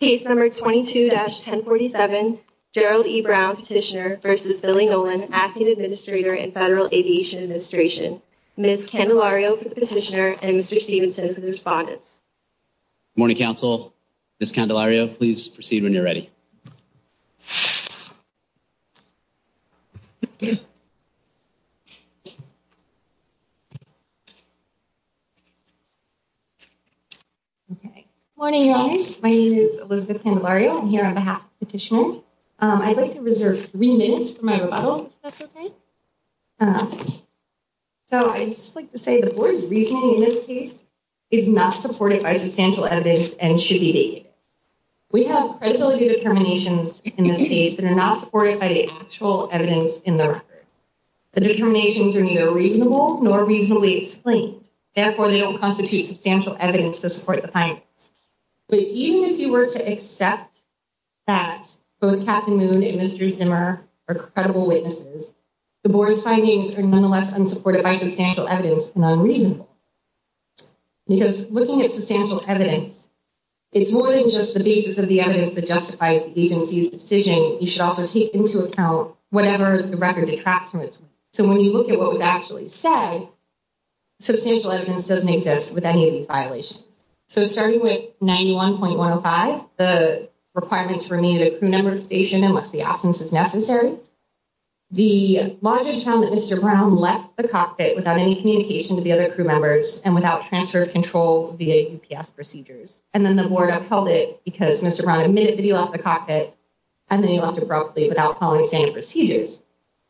Case No. 22-1047 Gerald E. Brown Petitioner v. Billy Nolen, Acting Administrator in Federal Aviation Administration. Ms. Candelario for the petitioner and Mr. Stevenson for the respondents. Good morning, Council. Ms. Candelario, please proceed when you're ready. Good morning, Your Honors. My name is Elizabeth Candelario. I'm here on behalf of the petitioner. I'd like to reserve three minutes for my rebuttal, if that's okay. So I'd just like to say the board's reasoning in this case is not supported by substantial evidence and should be debated. We have credibility determinations in this case that are not supported by the actual evidence in the record. The determinations are neither reasonable nor reasonably explained. Therefore, they don't constitute substantial evidence to support the findings. But even if you were to accept that both Captain Moon and Mr. Zimmer are credible witnesses, the board's findings are nonetheless unsupported by substantial evidence and unreasonable. Because looking at substantial evidence, it's more than just the basis of the evidence that justifies the agency's decision. You should also take into account whatever the record detracts from it. So when you look at what was actually said, substantial evidence doesn't exist with any of these violations. So starting with 91.105, the requirements remain at a crew member station unless the absence is necessary. The logic found that Mr. Brown left the cockpit without any communication to the other crew members and without transfer of control via UPS procedures. And then the board upheld it because Mr. Brown admitted that he left the cockpit and then he left abruptly without following standard procedures.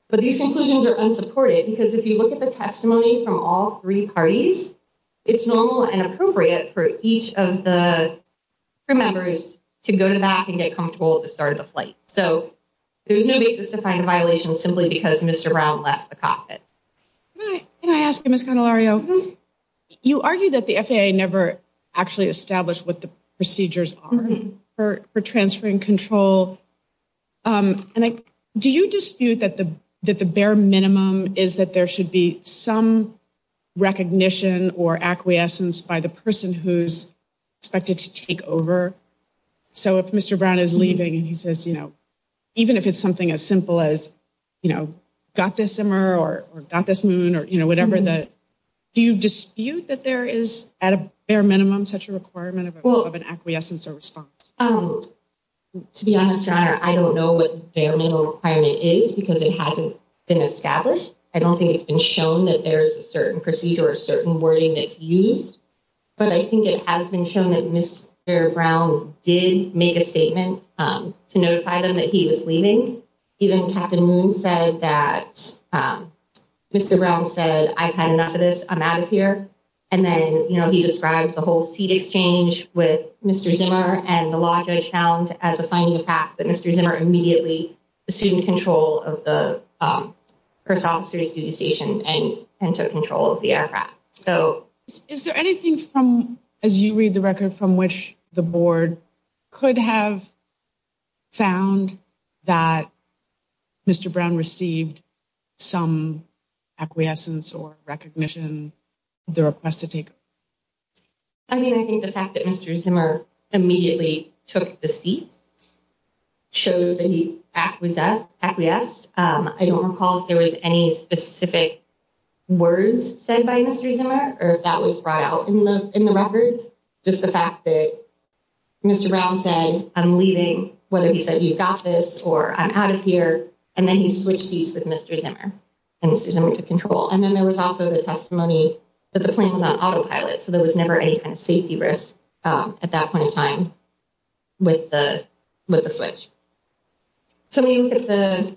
But these conclusions are unsupported because if you look at the testimony from all three parties, it's normal and appropriate for each of the crew members to go to the back and get comfortable at the start of the flight. So there's no basis to find a violation simply because Mr. Brown left the cockpit. Can I ask you, Ms. Canelario? You argue that the FAA never actually established what the procedures are for transferring control. Do you dispute that the bare minimum is that there should be some recognition or acquiescence by the person who's expected to take over? So if Mr. Brown is leaving and he says, you know, even if it's something as simple as, you know, got this summer or got this moon or, you know, whatever, do you dispute that there is at a bare minimum such a requirement of an acquiescence or response? To be honest, your honor, I don't know what the bare minimum requirement is because it hasn't been established. I don't think it's been shown that there's a certain procedure or a certain wording that's used. But I think it has been shown that Mr. Brown did make a statement to notify them that he was leaving. Even Captain Moon said that Mr. Brown said, I've had enough of this, I'm out of here. And then, you know, he described the whole seat exchange with Mr. Zimmer and the law judge found, as a finding of fact, that Mr. Zimmer immediately assumed control of the first officer's duty station and took control of the aircraft. Is there anything from, as you read the record, from which the board could have found that Mr. Brown received some acquiescence or recognition of the request to take over? I mean, I think the fact that Mr. Zimmer immediately took the seat shows that he acquiesced. I don't recall if there was any specific words said by Mr. Zimmer or if that was brought out in the record. Just the fact that Mr. Brown said, I'm leaving, whether he said, you've got this or I'm out of here. And then he switched seats with Mr. Zimmer and Mr. Zimmer took control. And then there was also the testimony that the plane was on autopilot. So there was never any kind of safety risk at that point in time with the switch. So when you look at the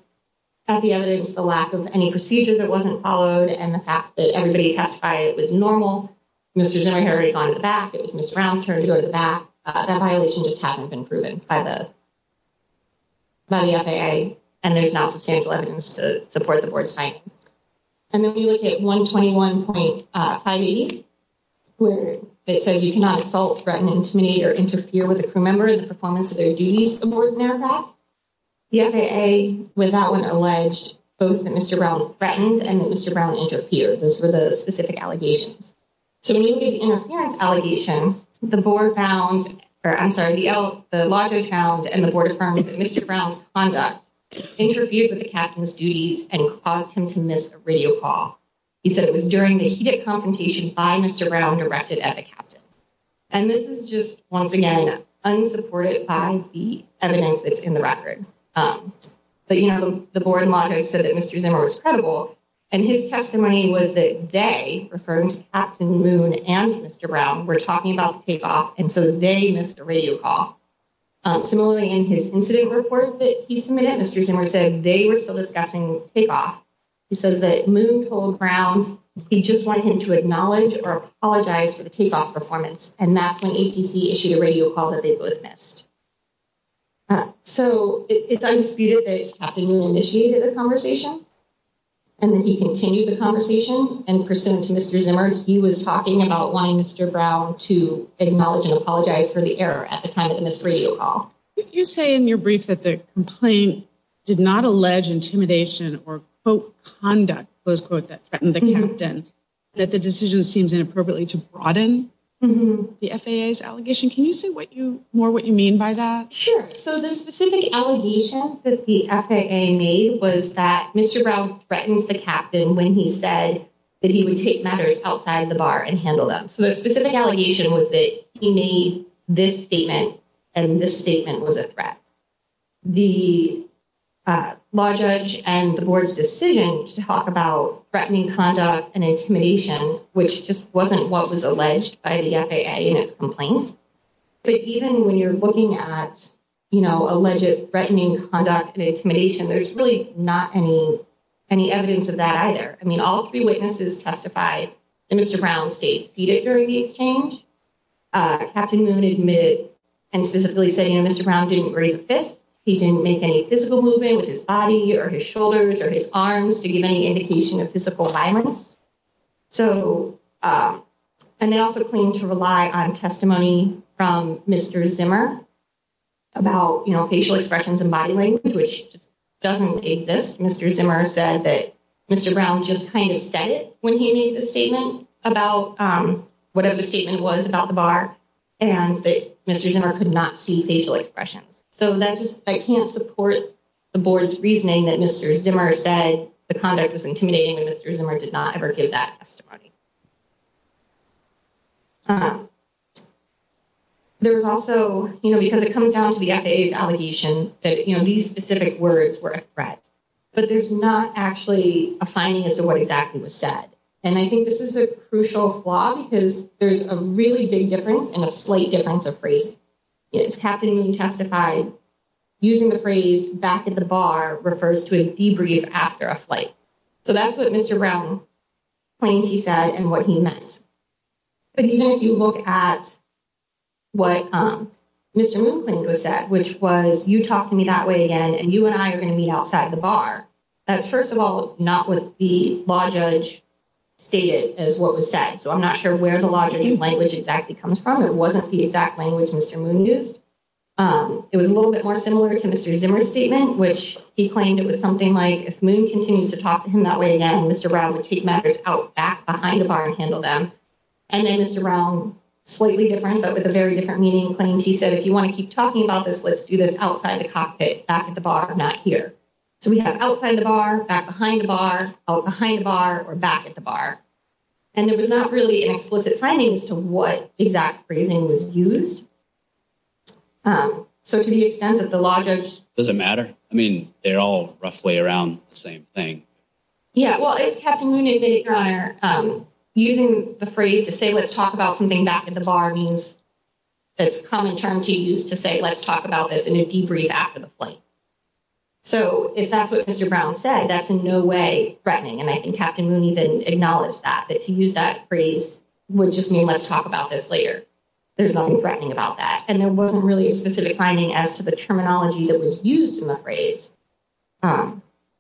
evidence, the lack of any procedure that wasn't followed and the fact that everybody testified it was normal. Mr. Zimmer had already gone to the back. It was Mr. Brown's turn to go to the back. That violation just hasn't been proven by the FAA. And there's not substantial evidence to support the board's finding. And then we look at 121.580, where it says you cannot assault, threaten, intimidate or interfere with a crew member in the performance of their duties aboard an aircraft. The FAA with that one alleged both that Mr. Brown threatened and that Mr. Brown interfered. Those were the specific allegations. So when you get the interference allegation, the board found, or I'm sorry, the LAJO found and the board affirmed that Mr. Brown's conduct interfered with the captain's duties and caused him to miss a radio call. He said it was during the heated confrontation by Mr. Brown directed at the captain. And this is just, once again, unsupported by the evidence that's in the record. But, you know, the board and LAJO said that Mr. Zimmer was credible. And his testimony was that they, referring to Captain Moon and Mr. Brown, were talking about the takeoff. And so they missed a radio call. Similarly, in his incident report that he submitted, Mr. Zimmer said they were still discussing takeoff. He says that Moon told Brown he just wanted him to acknowledge or apologize for the takeoff performance. And that's when ATC issued a radio call that they both missed. So it's undisputed that Captain Moon initiated the conversation. And then he continued the conversation. And pursuant to Mr. Zimmer, he was talking about wanting Mr. Brown to acknowledge and apologize for the error at the time of the missed radio call. You say in your brief that the complaint did not allege intimidation or, quote, conduct, close quote, that threatened the captain. That the decision seems inappropriately to broaden the FAA's allegation. Can you say what you more what you mean by that? Sure. So the specific allegation that the FAA made was that Mr. Brown threatens the captain when he said that he would take matters outside the bar and handle them. So the specific allegation was that he made this statement and this statement was a threat. The law judge and the board's decision to talk about threatening conduct and intimidation, which just wasn't what was alleged by the FAA in its complaint. But even when you're looking at, you know, alleged threatening conduct and intimidation, there's really not any any evidence of that either. I mean, all three witnesses testified that Mr. Brown stayed seated during the exchange. Captain Moon admitted and specifically said, you know, Mr. Brown didn't raise a fist. He didn't make any physical movement with his body or his shoulders or his arms to give any indication of physical violence. So and they also claim to rely on testimony from Mr. Zimmer about facial expressions and body language, which doesn't exist. Mr. Zimmer said that Mr. Brown just kind of said it when he made the statement about whatever the statement was about the bar and that Mr. Zimmer could not see facial expressions. So that just I can't support the board's reasoning that Mr. Zimmer said the conduct was intimidating and Mr. Zimmer did not ever give that testimony. There was also, you know, because it comes down to the FAA's allegation that, you know, these specific words were a threat, but there's not actually a finding as to what exactly was said. And I think this is a crucial flaw because there's a really big difference and a slight difference of phrase. It's Captain Moon testified using the phrase back at the bar refers to a debrief after a flight. So that's what Mr. Brown claims he said and what he meant. But even if you look at what Mr. Moon claimed was said, which was you talk to me that way again and you and I are going to meet outside the bar. That's, first of all, not what the law judge stated as what was said. So I'm not sure where the language exactly comes from. It wasn't the exact language Mr. Moon used. It was a little bit more similar to Mr. Zimmer statement, which he claimed it was something like if Moon continues to talk to him that way again, Mr. Brown would take matters out back behind the bar and handle them. And then Mr. Brown, slightly different, but with a very different meaning, claimed he said, if you want to keep talking about this, let's do this outside the cockpit back at the bar. I'm not here. So we have outside the bar back behind the bar behind the bar or back at the bar. And it was not really an explicit finding as to what exact phrasing was used. So to the extent that the law judge doesn't matter, I mean, they're all roughly around the same thing. Yeah, well, it's Captain Moon, your honor, using the phrase to say, let's talk about something back at the bar means it's common term to use to say, let's talk about this in a debrief after the flight. So if that's what Mr. Brown said, that's in no way threatening. And I think Captain Moon even acknowledged that, that to use that phrase would just mean let's talk about this later. There's nothing threatening about that. And there wasn't really a specific finding as to the terminology that was used in the phrase.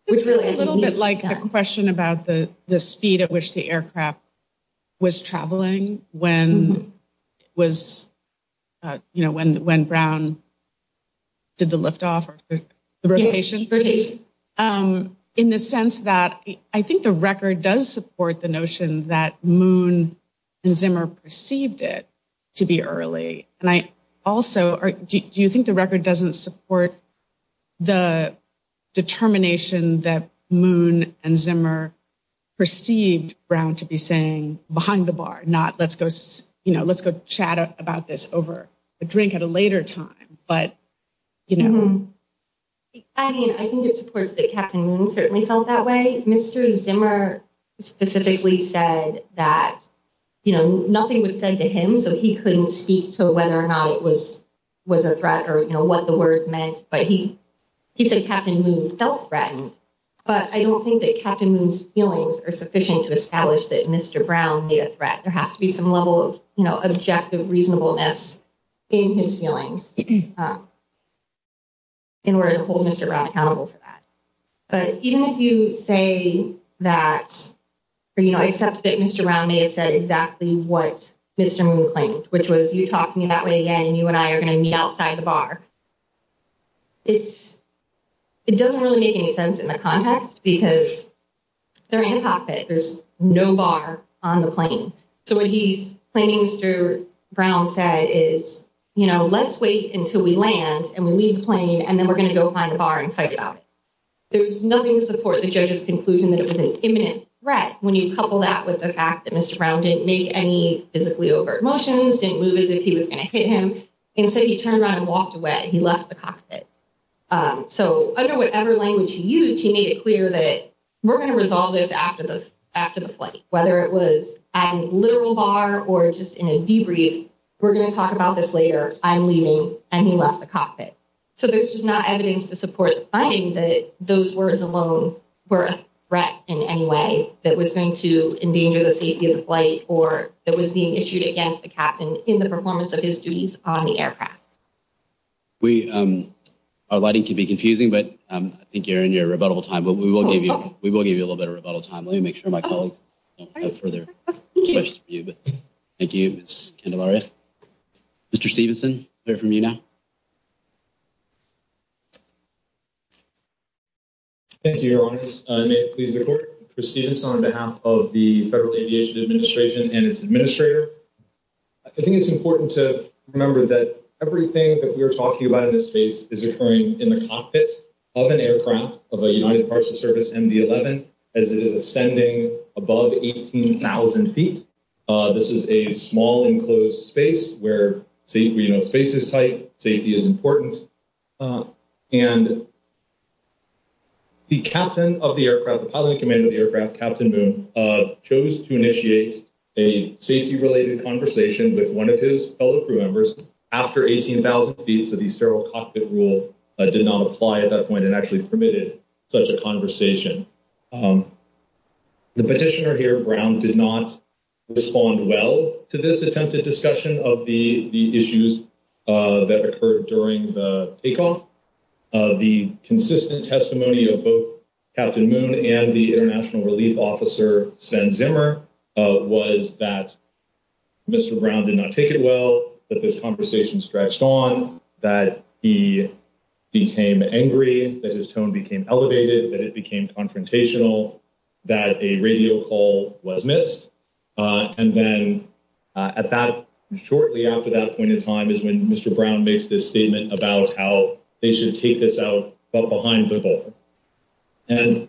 It's a little bit like a question about the speed at which the aircraft was traveling when it was, you know, when when Brown. Did the liftoff rotation in the sense that I think the record does support the notion that Moon and Zimmer perceived it to be early. And I also do you think the record doesn't support the determination that Moon and Zimmer perceived Brown to be saying behind the bar, not let's go, you know, let's go chat about this over a drink at a later time. But, you know, I mean, I think it's important that Captain Moon certainly felt that way. I think Mr. Zimmer specifically said that, you know, nothing was said to him. So he couldn't speak to whether or not it was was a threat or, you know, what the words meant. But he he said Captain Moon felt threatened. But I don't think that Captain Moon's feelings are sufficient to establish that Mr. Brown made a threat. There has to be some level of objective reasonableness in his feelings. In order to hold Mr. Brown accountable for that. But even if you say that, you know, except that Mr. Brown may have said exactly what Mr. Moon claimed, which was you talking that way again and you and I are going to meet outside the bar. It's it doesn't really make any sense in the context because there is no bar on the plane. So what he's claiming Mr. Brown said is, you know, let's wait until we land and we leave plane and then we're going to go find a bar and fight about it. There's nothing to support the judge's conclusion that it was an imminent threat. When you couple that with the fact that Mr. Brown didn't make any physically overt motions, didn't move as if he was going to hit him. Instead, he turned around and walked away. He left the cockpit. So under whatever language he used, he made it clear that we're going to resolve this after the after the flight, whether it was a literal bar or just in a debrief. We're going to talk about this later. I'm leaving. And he left the cockpit. So there's just not evidence to support the finding that those words alone were a threat in any way that was going to endanger the safety of the flight or that was being issued against the captain in the performance of his duties on the aircraft. We are lighting can be confusing, but I think you're in your rebuttal time, but we will give you we will give you a little bit of rebuttal time. Let me make sure my colleagues have further questions for you. Thank you, Ms. Candelaria. Mr. Stevenson, hear from you now. Thank you, Your Honor. May it please the court. Mr. Stevenson, on behalf of the Federal Aviation Administration and its administrator. I think it's important to remember that everything that we are talking about in this space is occurring in the cockpit of an aircraft of a United Parcels Service MD-11 as it is ascending above 18,000 feet. This is a small enclosed space where space is tight. Safety is important. And the captain of the aircraft, the pilot in command of the aircraft, Captain Boone, chose to initiate a safety related conversation with one of his fellow crew members after 18,000 feet. So the sterile cockpit rule did not apply at that point and actually permitted such a conversation. The petitioner here, Brown, did not respond well to this attempted discussion of the issues that occurred during the takeoff. The consistent testimony of both Captain Boone and the International Relief Officer Sven Zimmer was that Mr. Brown did not take it well. That this conversation stretched on, that he became angry, that his tone became elevated, that it became confrontational, that a radio call was missed. And then shortly after that point in time is when Mr. Brown makes this statement about how they should take this out, but behind the ball. And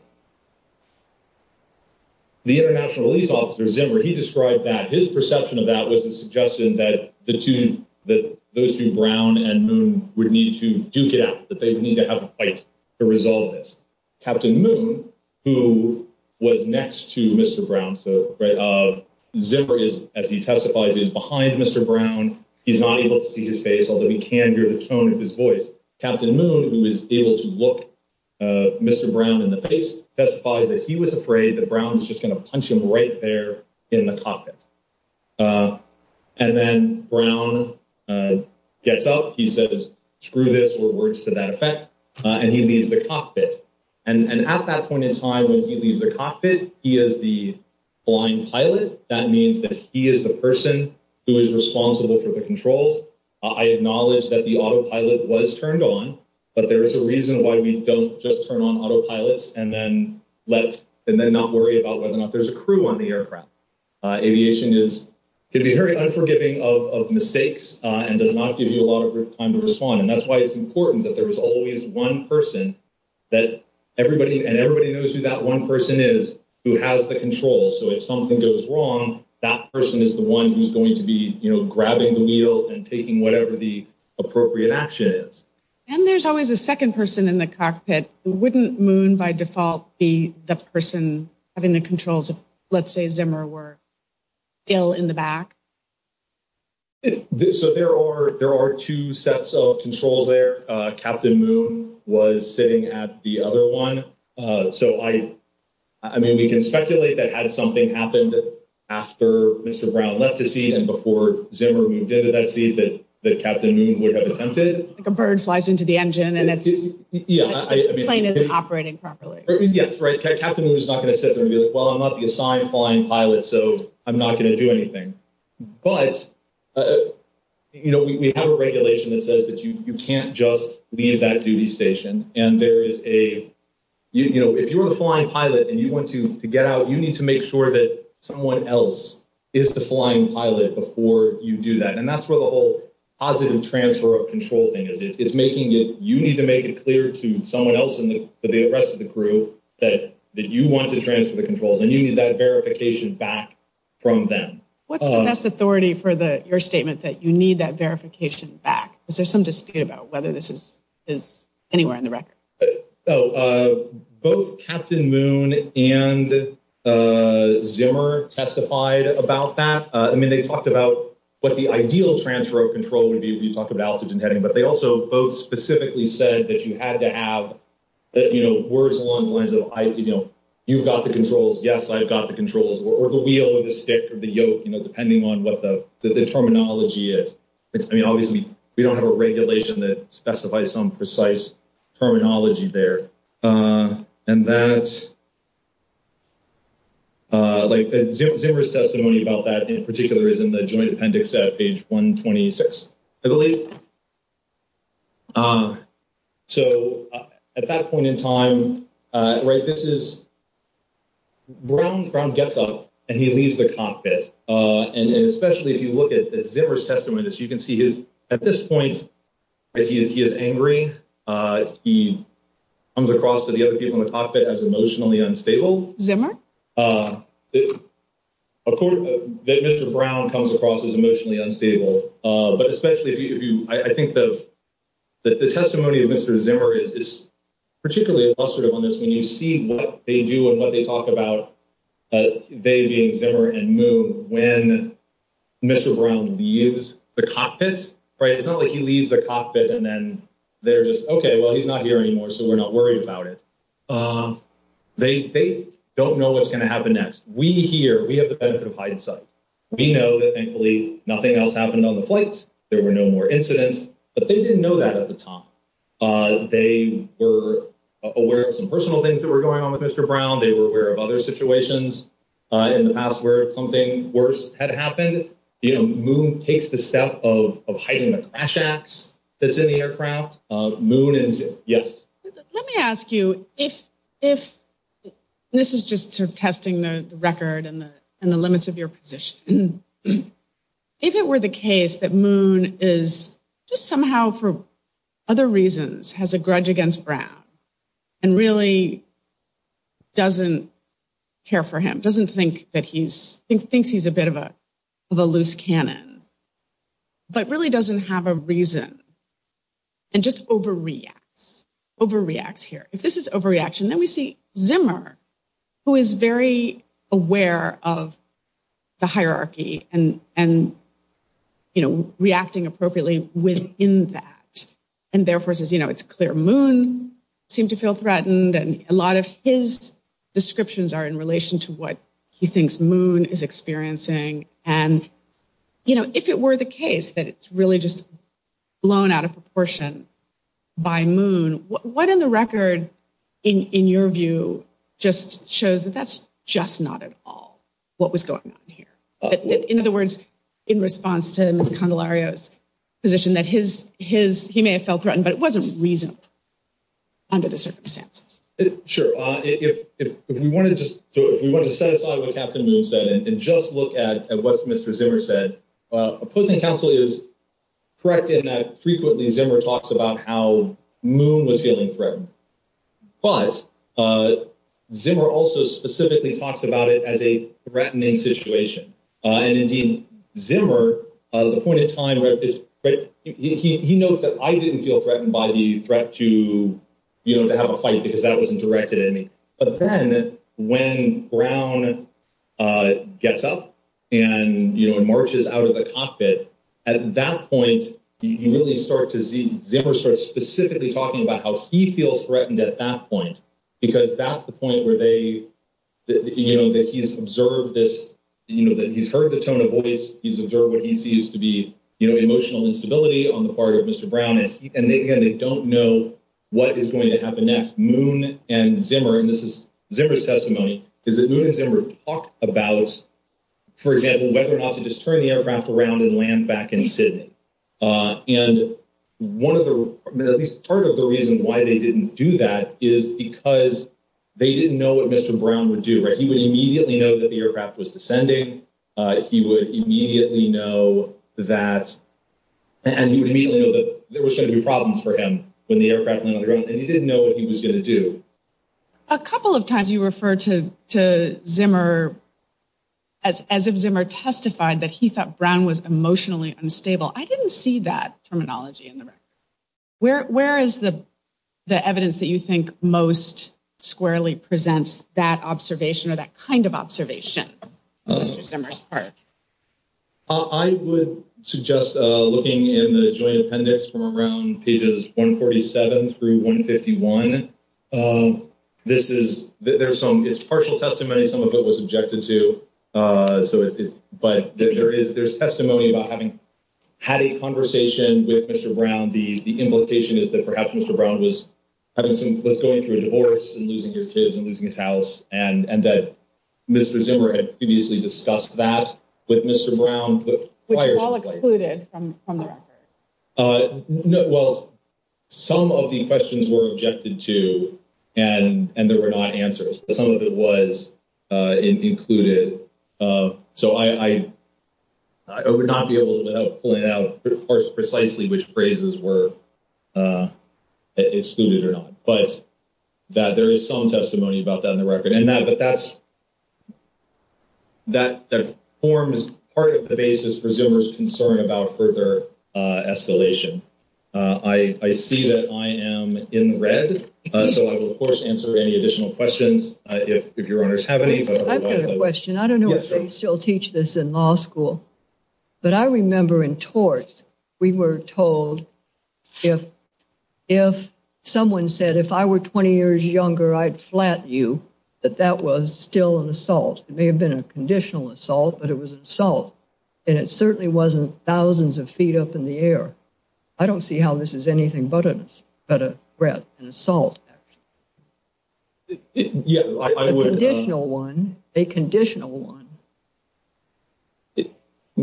the International Relief Officer Zimmer, he described that his perception of that was a suggestion that those two, Brown and Boone, would need to duke it out, that they would need to have a fight to resolve this. Captain Boone, who was next to Mr. Brown, so Zimmer is, as he testifies, is behind Mr. Brown. He's not able to see his face, although he can hear the tone of his voice. Captain Boone, who was able to look Mr. Brown in the face, testified that he was afraid that Brown was just going to punch him right there in the cockpit. And then Brown gets up, he says, screw this, or words to that effect, and he leaves the cockpit. And at that point in time, when he leaves the cockpit, he is the blind pilot. That means that he is the person who is responsible for the controls. I acknowledge that the autopilot was turned on, but there is a reason why we don't just turn on autopilots and then not worry about whether or not there's a crew on the aircraft. Aviation is going to be very unforgiving of mistakes and does not give you a lot of time to respond. And that's why it's important that there is always one person, and everybody knows who that one person is, who has the controls. So if something goes wrong, that person is the one who's going to be grabbing the wheel and taking whatever the appropriate action is. And there's always a second person in the cockpit. Wouldn't Moon, by default, be the person having the controls if, let's say, Zimmer were ill in the back? So there are two sets of controls there. Captain Moon was sitting at the other one. So, I mean, we can speculate that had something happened after Mr. Brown left the seat and before Zimmer moved into that seat, that Captain Moon would have attempted. I mean, he flies into the engine and the plane isn't operating properly. Yes, right. Captain Moon is not going to sit there and be like, well, I'm not the assigned flying pilot, so I'm not going to do anything. But, you know, we have a regulation that says that you can't just leave that duty station. And there is a, you know, if you're the flying pilot and you want to get out, you need to make sure that someone else is the flying pilot before you do that. And that's where the whole positive transfer of control thing is. You need to make it clear to someone else and the rest of the crew that you want to transfer the controls and you need that verification back from them. What's the best authority for your statement that you need that verification back? Is there some dispute about whether this is anywhere in the record? Both Captain Moon and Zimmer testified about that. I mean, they talked about what the ideal transfer of control would be. We talked about altitude and heading, but they also both specifically said that you had to have, you know, words along the lines of, you know, you've got the controls. Yes, I've got the controls or the wheel or the stick or the yoke, you know, depending on what the terminology is. I mean, obviously, we don't have a regulation that specifies some precise terminology there. And that's like Zimmer's testimony about that in particular is in the joint appendix at page 126, I believe. So at that point in time, right, this is Brown gets up and he leaves the cockpit. And especially if you look at Zimmer's testimony, as you can see, at this point, he is angry. He comes across to the other people in the cockpit as emotionally unstable. Zimmer? Of course, Mr. Brown comes across as emotionally unstable. But especially if you, I think that the testimony of Mr. Zimmer is particularly illustrative on this. When you see what they do and what they talk about, they being Zimmer and Moon, when Mr. Brown leaves the cockpit, right? It's not like he leaves the cockpit and then they're just, okay, well, he's not here anymore, so we're not worried about it. They don't know what's going to happen next. We know that thankfully nothing else happened on the flight. There were no more incidents, but they didn't know that at the time. They were aware of some personal things that were going on with Mr. Brown. They were aware of other situations in the past where something worse had happened. You know, Moon takes the step of hiding the crash axe that's in the aircraft. Moon and Zimmer, yes. Let me ask you, this is just sort of testing the record and the limits of your position. If it were the case that Moon is just somehow for other reasons has a grudge against Brown and really doesn't care for him, doesn't think that he's, thinks he's a bit of a loose cannon, but really doesn't have a reason and just overreacts, overreacts here. If this is overreaction, then we see Zimmer, who is very aware of the hierarchy and, you know, reacting appropriately within that. And therefore says, you know, it's clear Moon seemed to feel threatened. And a lot of his descriptions are in relation to what he thinks Moon is experiencing. And, you know, if it were the case that it's really just blown out of proportion by Moon, what in the record in your view just shows that that's just not at all what was going on here? In other words, in response to Ms. Candelario's position that his, his, he may have felt threatened, but it wasn't reasonable under the circumstances. Sure. If we want to just, if we want to set aside what Captain Moon said and just look at what Mr. Zimmer said, opposing counsel is correct in that frequently Zimmer talks about how Moon was feeling threatened. But Zimmer also specifically talks about it as a threatening situation. And indeed, Zimmer, the point in time where he knows that I didn't feel threatened by the threat to, you know, to have a fight because that wasn't directed at me. But then when Brown gets up and marches out of the cockpit, at that point, you really start to see Zimmer starts specifically talking about how he feels threatened at that point, because that's the point where they, you know, that he's observed this, you know, that he's heard the tone of voice. He's observed what he sees to be emotional instability on the part of Mr. Brown. And again, they don't know what is going to happen next. Moon and Zimmer. And this is Zimmer's testimony is that Moon and Zimmer talked about, for example, whether or not to just turn the aircraft around and land back in Sydney. And one of the at least part of the reason why they didn't do that is because they didn't know what Mr. Brown would do. He would immediately know that the aircraft was descending. He would immediately know that. And he would immediately know that there was going to be problems for him when the aircraft landed on the ground. And he didn't know what he was going to do. A couple of times you refer to to Zimmer. As as of Zimmer testified that he thought Brown was emotionally unstable. I didn't see that terminology in the record. Where is the the evidence that you think most squarely presents that observation or that kind of observation? Zimmer's part. I would suggest looking in the joint appendix from around pages 147 through 151. This is there's some it's partial testimony. Some of it was objected to. So but there is there's testimony about having had a conversation with Mr. Brown. The implication is that perhaps Mr. Brown was having some was going through a divorce and losing his kids and losing his house. And that Mr. Zimmer had previously discussed that with Mr. Brown. Which was all excluded from the record. Well, some of the questions were objected to and there were not answers. Some of it was included. So I would not be able to point out precisely which phrases were excluded or not. But that there is some testimony about that in the record. And that that's that forms part of the basis for Zimmer's concern about further escalation. I see that I am in the red. So I will, of course, answer any additional questions. If your honors have any questions, I don't know if they still teach this in law school. But I remember in torts we were told if if someone said, if I were 20 years younger, I'd flat you that that was still an assault. It may have been a conditional assault, but it was assault. And it certainly wasn't thousands of feet up in the air. I don't see how this is anything but a threat and assault. Yeah, I wouldn't know one, a conditional one.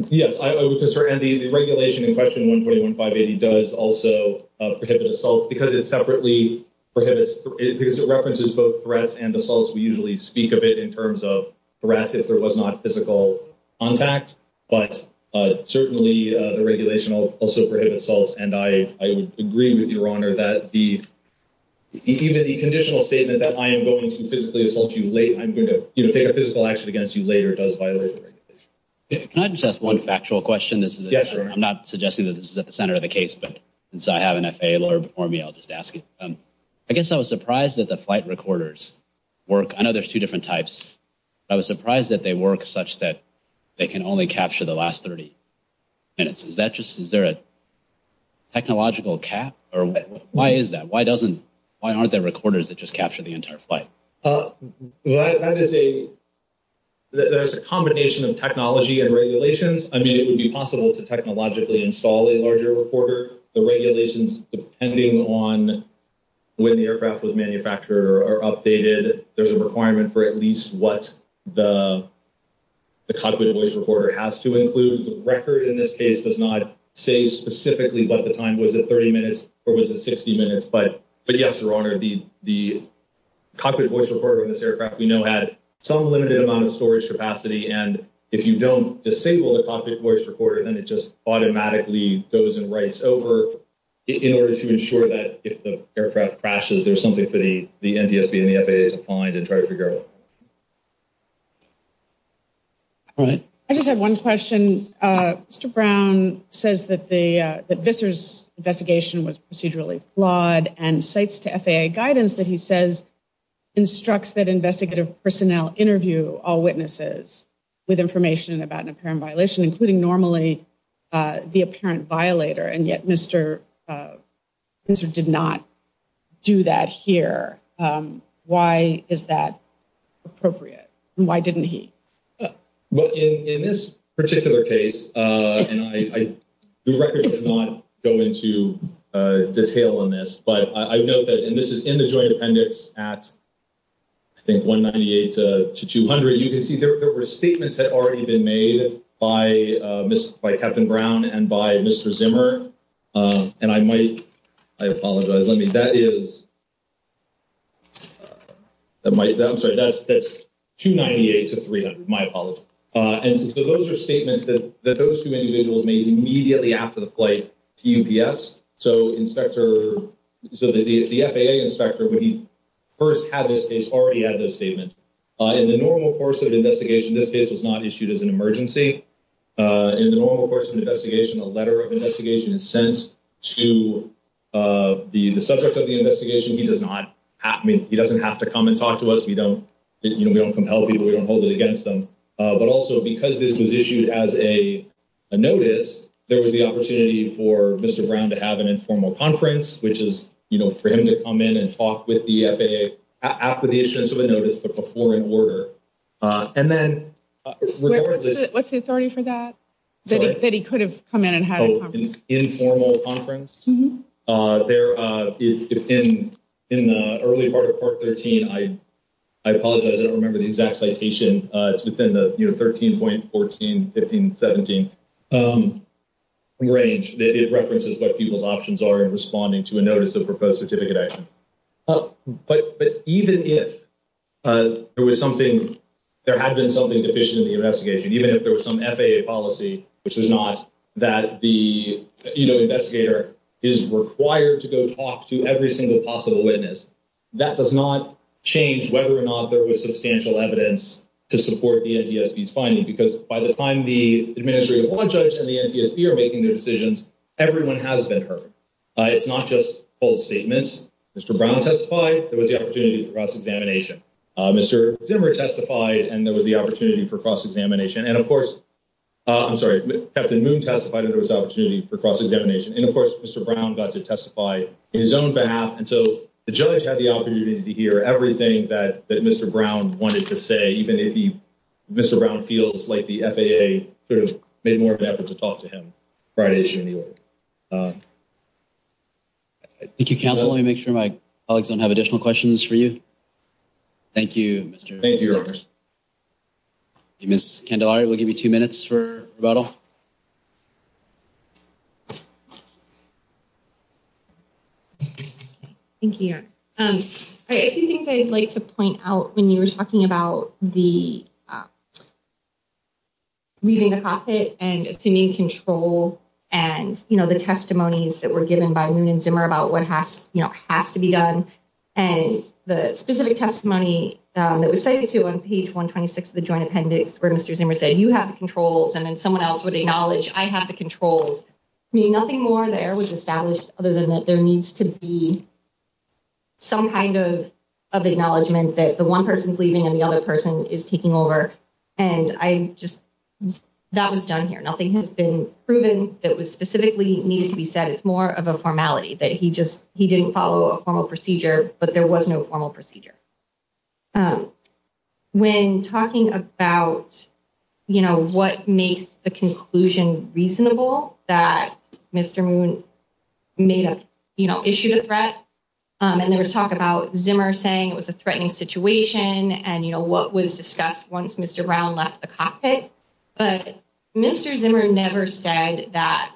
Yes, I would. And the regulation in question one, twenty one, five, eighty does also prohibit assault because it separately prohibits it because it references both threats and assaults. We usually speak of it in terms of threats if there was not physical contact. But certainly the regulation also prohibits assaults. And I would agree with your honor that the even the conditional statement that I am going to physically assault you late, I'm going to take a physical action against you later. It does violate the regulation. Can I just ask one factual question? I'm not suggesting that this is at the center of the case, but since I have an FAA lawyer before me, I'll just ask it. I guess I was surprised that the flight recorders work. I know there's two different types. I was surprised that they work such that they can only capture the last 30 minutes. Is that just is there a. Technological cap or why is that? Why doesn't why aren't there recorders that just capture the entire flight? That is a. There's a combination of technology and regulations. I mean, it would be possible to technologically install a larger recorder. The regulations, depending on when the aircraft was manufactured or updated, there's a requirement for at least what the. The cockpit voice recorder has to include the record in this case does not say specifically what the time was at 30 minutes or was it 60 minutes? But but yes, your honor, the the cockpit voice recorder in this aircraft, we know, had some limited amount of storage capacity. And if you don't disable the cockpit voice recorder, then it just automatically goes and writes over in order to ensure that if the aircraft crashes, there's something for the NTSB and the FAA to find and try to figure out. All right. I just had one question. Mr. Brown says that the Vissar's investigation was procedurally flawed and cites to FAA guidance that he says instructs that investigative personnel interview all witnesses with information about an apparent violation, including normally the apparent violator. And yet, Mr. Vissar did not do that here. Why is that appropriate? Why didn't he? Well, in this particular case, and I do not go into detail on this, but I know that this is in the joint appendix at. I think 198 to 200, you can see there were statements that already been made by by Captain Brown and by Mr. Zimmer and I might I apologize. Let me that is. I'm sorry, that's that's 298 to 300. My apologies. And so those are statements that those two individuals made immediately after the flight to UPS. So inspector so that the FAA inspector, when he first had this case already had those statements in the normal course of investigation, this case was not issued as an emergency in the normal course of investigation. A letter of investigation is sent to the subject of the investigation. He does not happen. He doesn't have to come and talk to us. We don't we don't compel people. We don't hold it against them. But also because this was issued as a notice, there was the opportunity for Mr. Brown to have an informal conference, which is for him to come in and talk with the FAA after the issuance of a notice to perform an order. And then what's the authority for that that he could have come in and had an informal conference there in in the early part of part 13? I, I apologize. I don't remember the exact citation. It's within the 13.14, 15, 17 range that it references what people's options are responding to a notice of proposed certificate. But even if there was something, there had been something deficient in the investigation, even if there was some FAA policy, which is not that the investigator is required to go talk to every single possible witness. That does not change whether or not there was substantial evidence to support the NTSB's finding, because by the time the administrative law judge and the NTSB are making their decisions, everyone has been heard. It's not just false statements. Mr. Brown testified there was the opportunity for cross-examination. Mr. Zimmer testified and there was the opportunity for cross-examination. And, of course, I'm sorry, Captain Moon testified that there was opportunity for cross-examination. And, of course, Mr. Brown got to testify on his own behalf. And so the judge had the opportunity to hear everything that Mr. Brown wanted to say, even if Mr. Brown feels like the FAA made more of an effort to talk to him prior to issuing the order. Thank you, Counselor. Let me make sure my colleagues don't have additional questions for you. Thank you. Thank you. Ms. Candelari, we'll give you two minutes for rebuttal. Thank you. A few things I'd like to point out when you were talking about the leaving the cockpit and assuming control and, you know, the testimonies that were given by Moon and Zimmer about what has to be done. And the specific testimony that was cited to on page 126 of the joint appendix where Mr. Zimmer said you have the controls and then someone else would acknowledge I have the controls. I mean, nothing more there was established other than that there needs to be some kind of acknowledgement that the one person is leaving and the other person is taking over. And I just that was done here. Nothing has been proven that was specifically needed to be said. It's more of a formality that he just he didn't follow a formal procedure, but there was no formal procedure. When talking about, you know, what makes the conclusion reasonable that Mr. Moon may have issued a threat and there was talk about Zimmer saying it was a threatening situation and, you know, what was discussed once Mr. Brown left the cockpit. But Mr. Zimmer never said that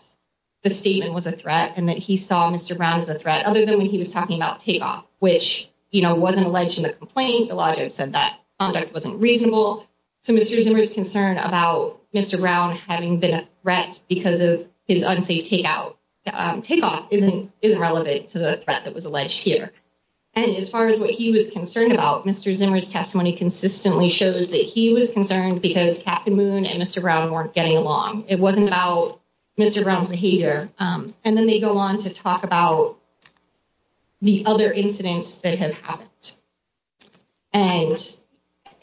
the statement was a threat and that he saw Mr. Brown as a threat other than when he was talking about takeoff, which, you know, wasn't alleged in the complaint. The logic said that wasn't reasonable to Mr. Zimmer's concern about Mr. Brown having been a threat because of his unsafe takeout takeoff isn't isn't relevant to the threat that was alleged here. And as far as what he was concerned about, Mr. Zimmer's testimony consistently shows that he was concerned because Captain Moon and Mr. Brown weren't getting along. It wasn't about Mr. Brown's behavior. And then they go on to talk about the other incidents that have happened. And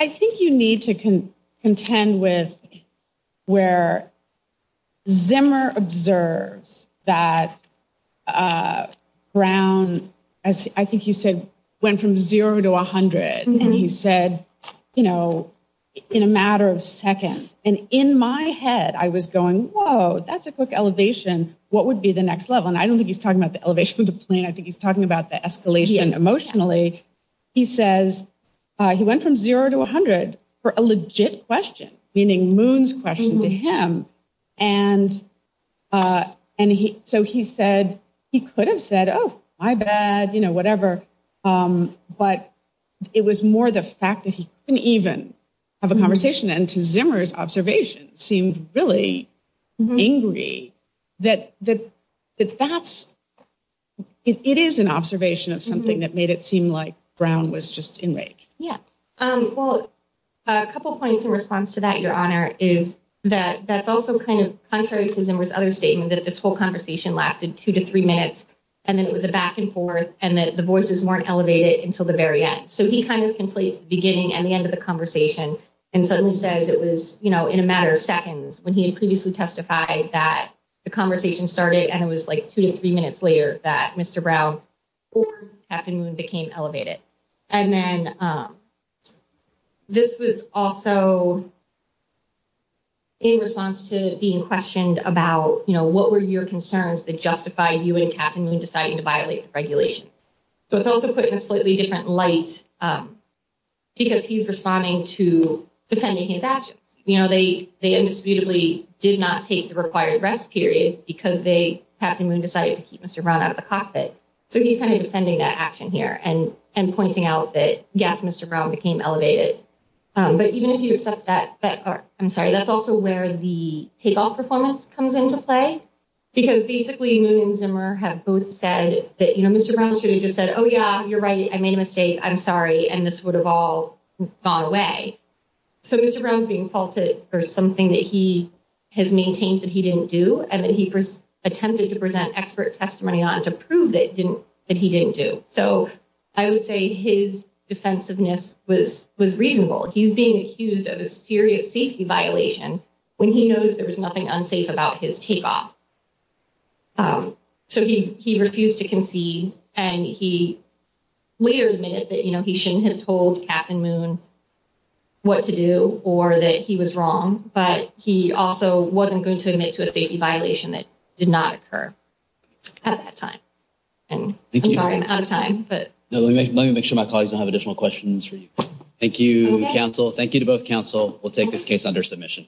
I think you need to contend with where Zimmer observes that Brown, as I think he said, went from zero to 100. And he said, you know, in a matter of seconds and in my head, I was going, whoa, that's a quick elevation. What would be the next level? And I don't think he's talking about the elevation of the plane. I think he's talking about the escalation emotionally. He says he went from zero to 100 for a legit question, meaning Moon's question to him. And and so he said he could have said, oh, my bad, you know, whatever. But it was more the fact that he didn't even have a conversation and to Zimmer's observation seemed really angry that that that that's it is an observation of something that made it seem like Brown was just in rake. Yeah, well, a couple of points in response to that, your honor, is that that's also kind of contrary to Zimmer's other statement that this whole conversation lasted two to three minutes. And then it was a back and forth and that the voices weren't elevated until the very end. So he kind of completes the beginning and the end of the conversation and suddenly says it was, you know, in a matter of seconds when he had previously testified that the conversation started. And it was like two to three minutes later that Mr. Brown or Captain Moon became elevated. And then this was also. In response to being questioned about, you know, what were your concerns that justify you and Captain Moon deciding to violate the regulations. So it's also put in a slightly different light because he's responding to defending his actions. You know, they they indisputably did not take the required rest periods because they have to decide to keep Mr. Brown out of the cockpit. So he's kind of defending that action here and and pointing out that, yes, Mr. Brown became elevated. But even if you accept that, I'm sorry, that's also where the takeoff performance comes into play, because basically Moon and Zimmer have both said that, you know, Mr. Brown should have just said, oh, yeah, you're right. I made a mistake. I'm sorry. And this would have all gone away. So Mr. Brown's being faulted for something that he has maintained that he didn't do. And then he attempted to present expert testimony on to prove that didn't that he didn't do. So I would say his defensiveness was was reasonable. He's being accused of a serious safety violation when he knows there was nothing unsafe about his takeoff. So he he refused to concede and he later admitted that, you know, he shouldn't have told Captain Moon what to do or that he was wrong. But he also wasn't going to admit to a safety violation that did not occur at that time. And I'm sorry, I'm out of time, but let me make sure my colleagues have additional questions for you. Thank you, counsel. Thank you to both counsel. We'll take this case under submission.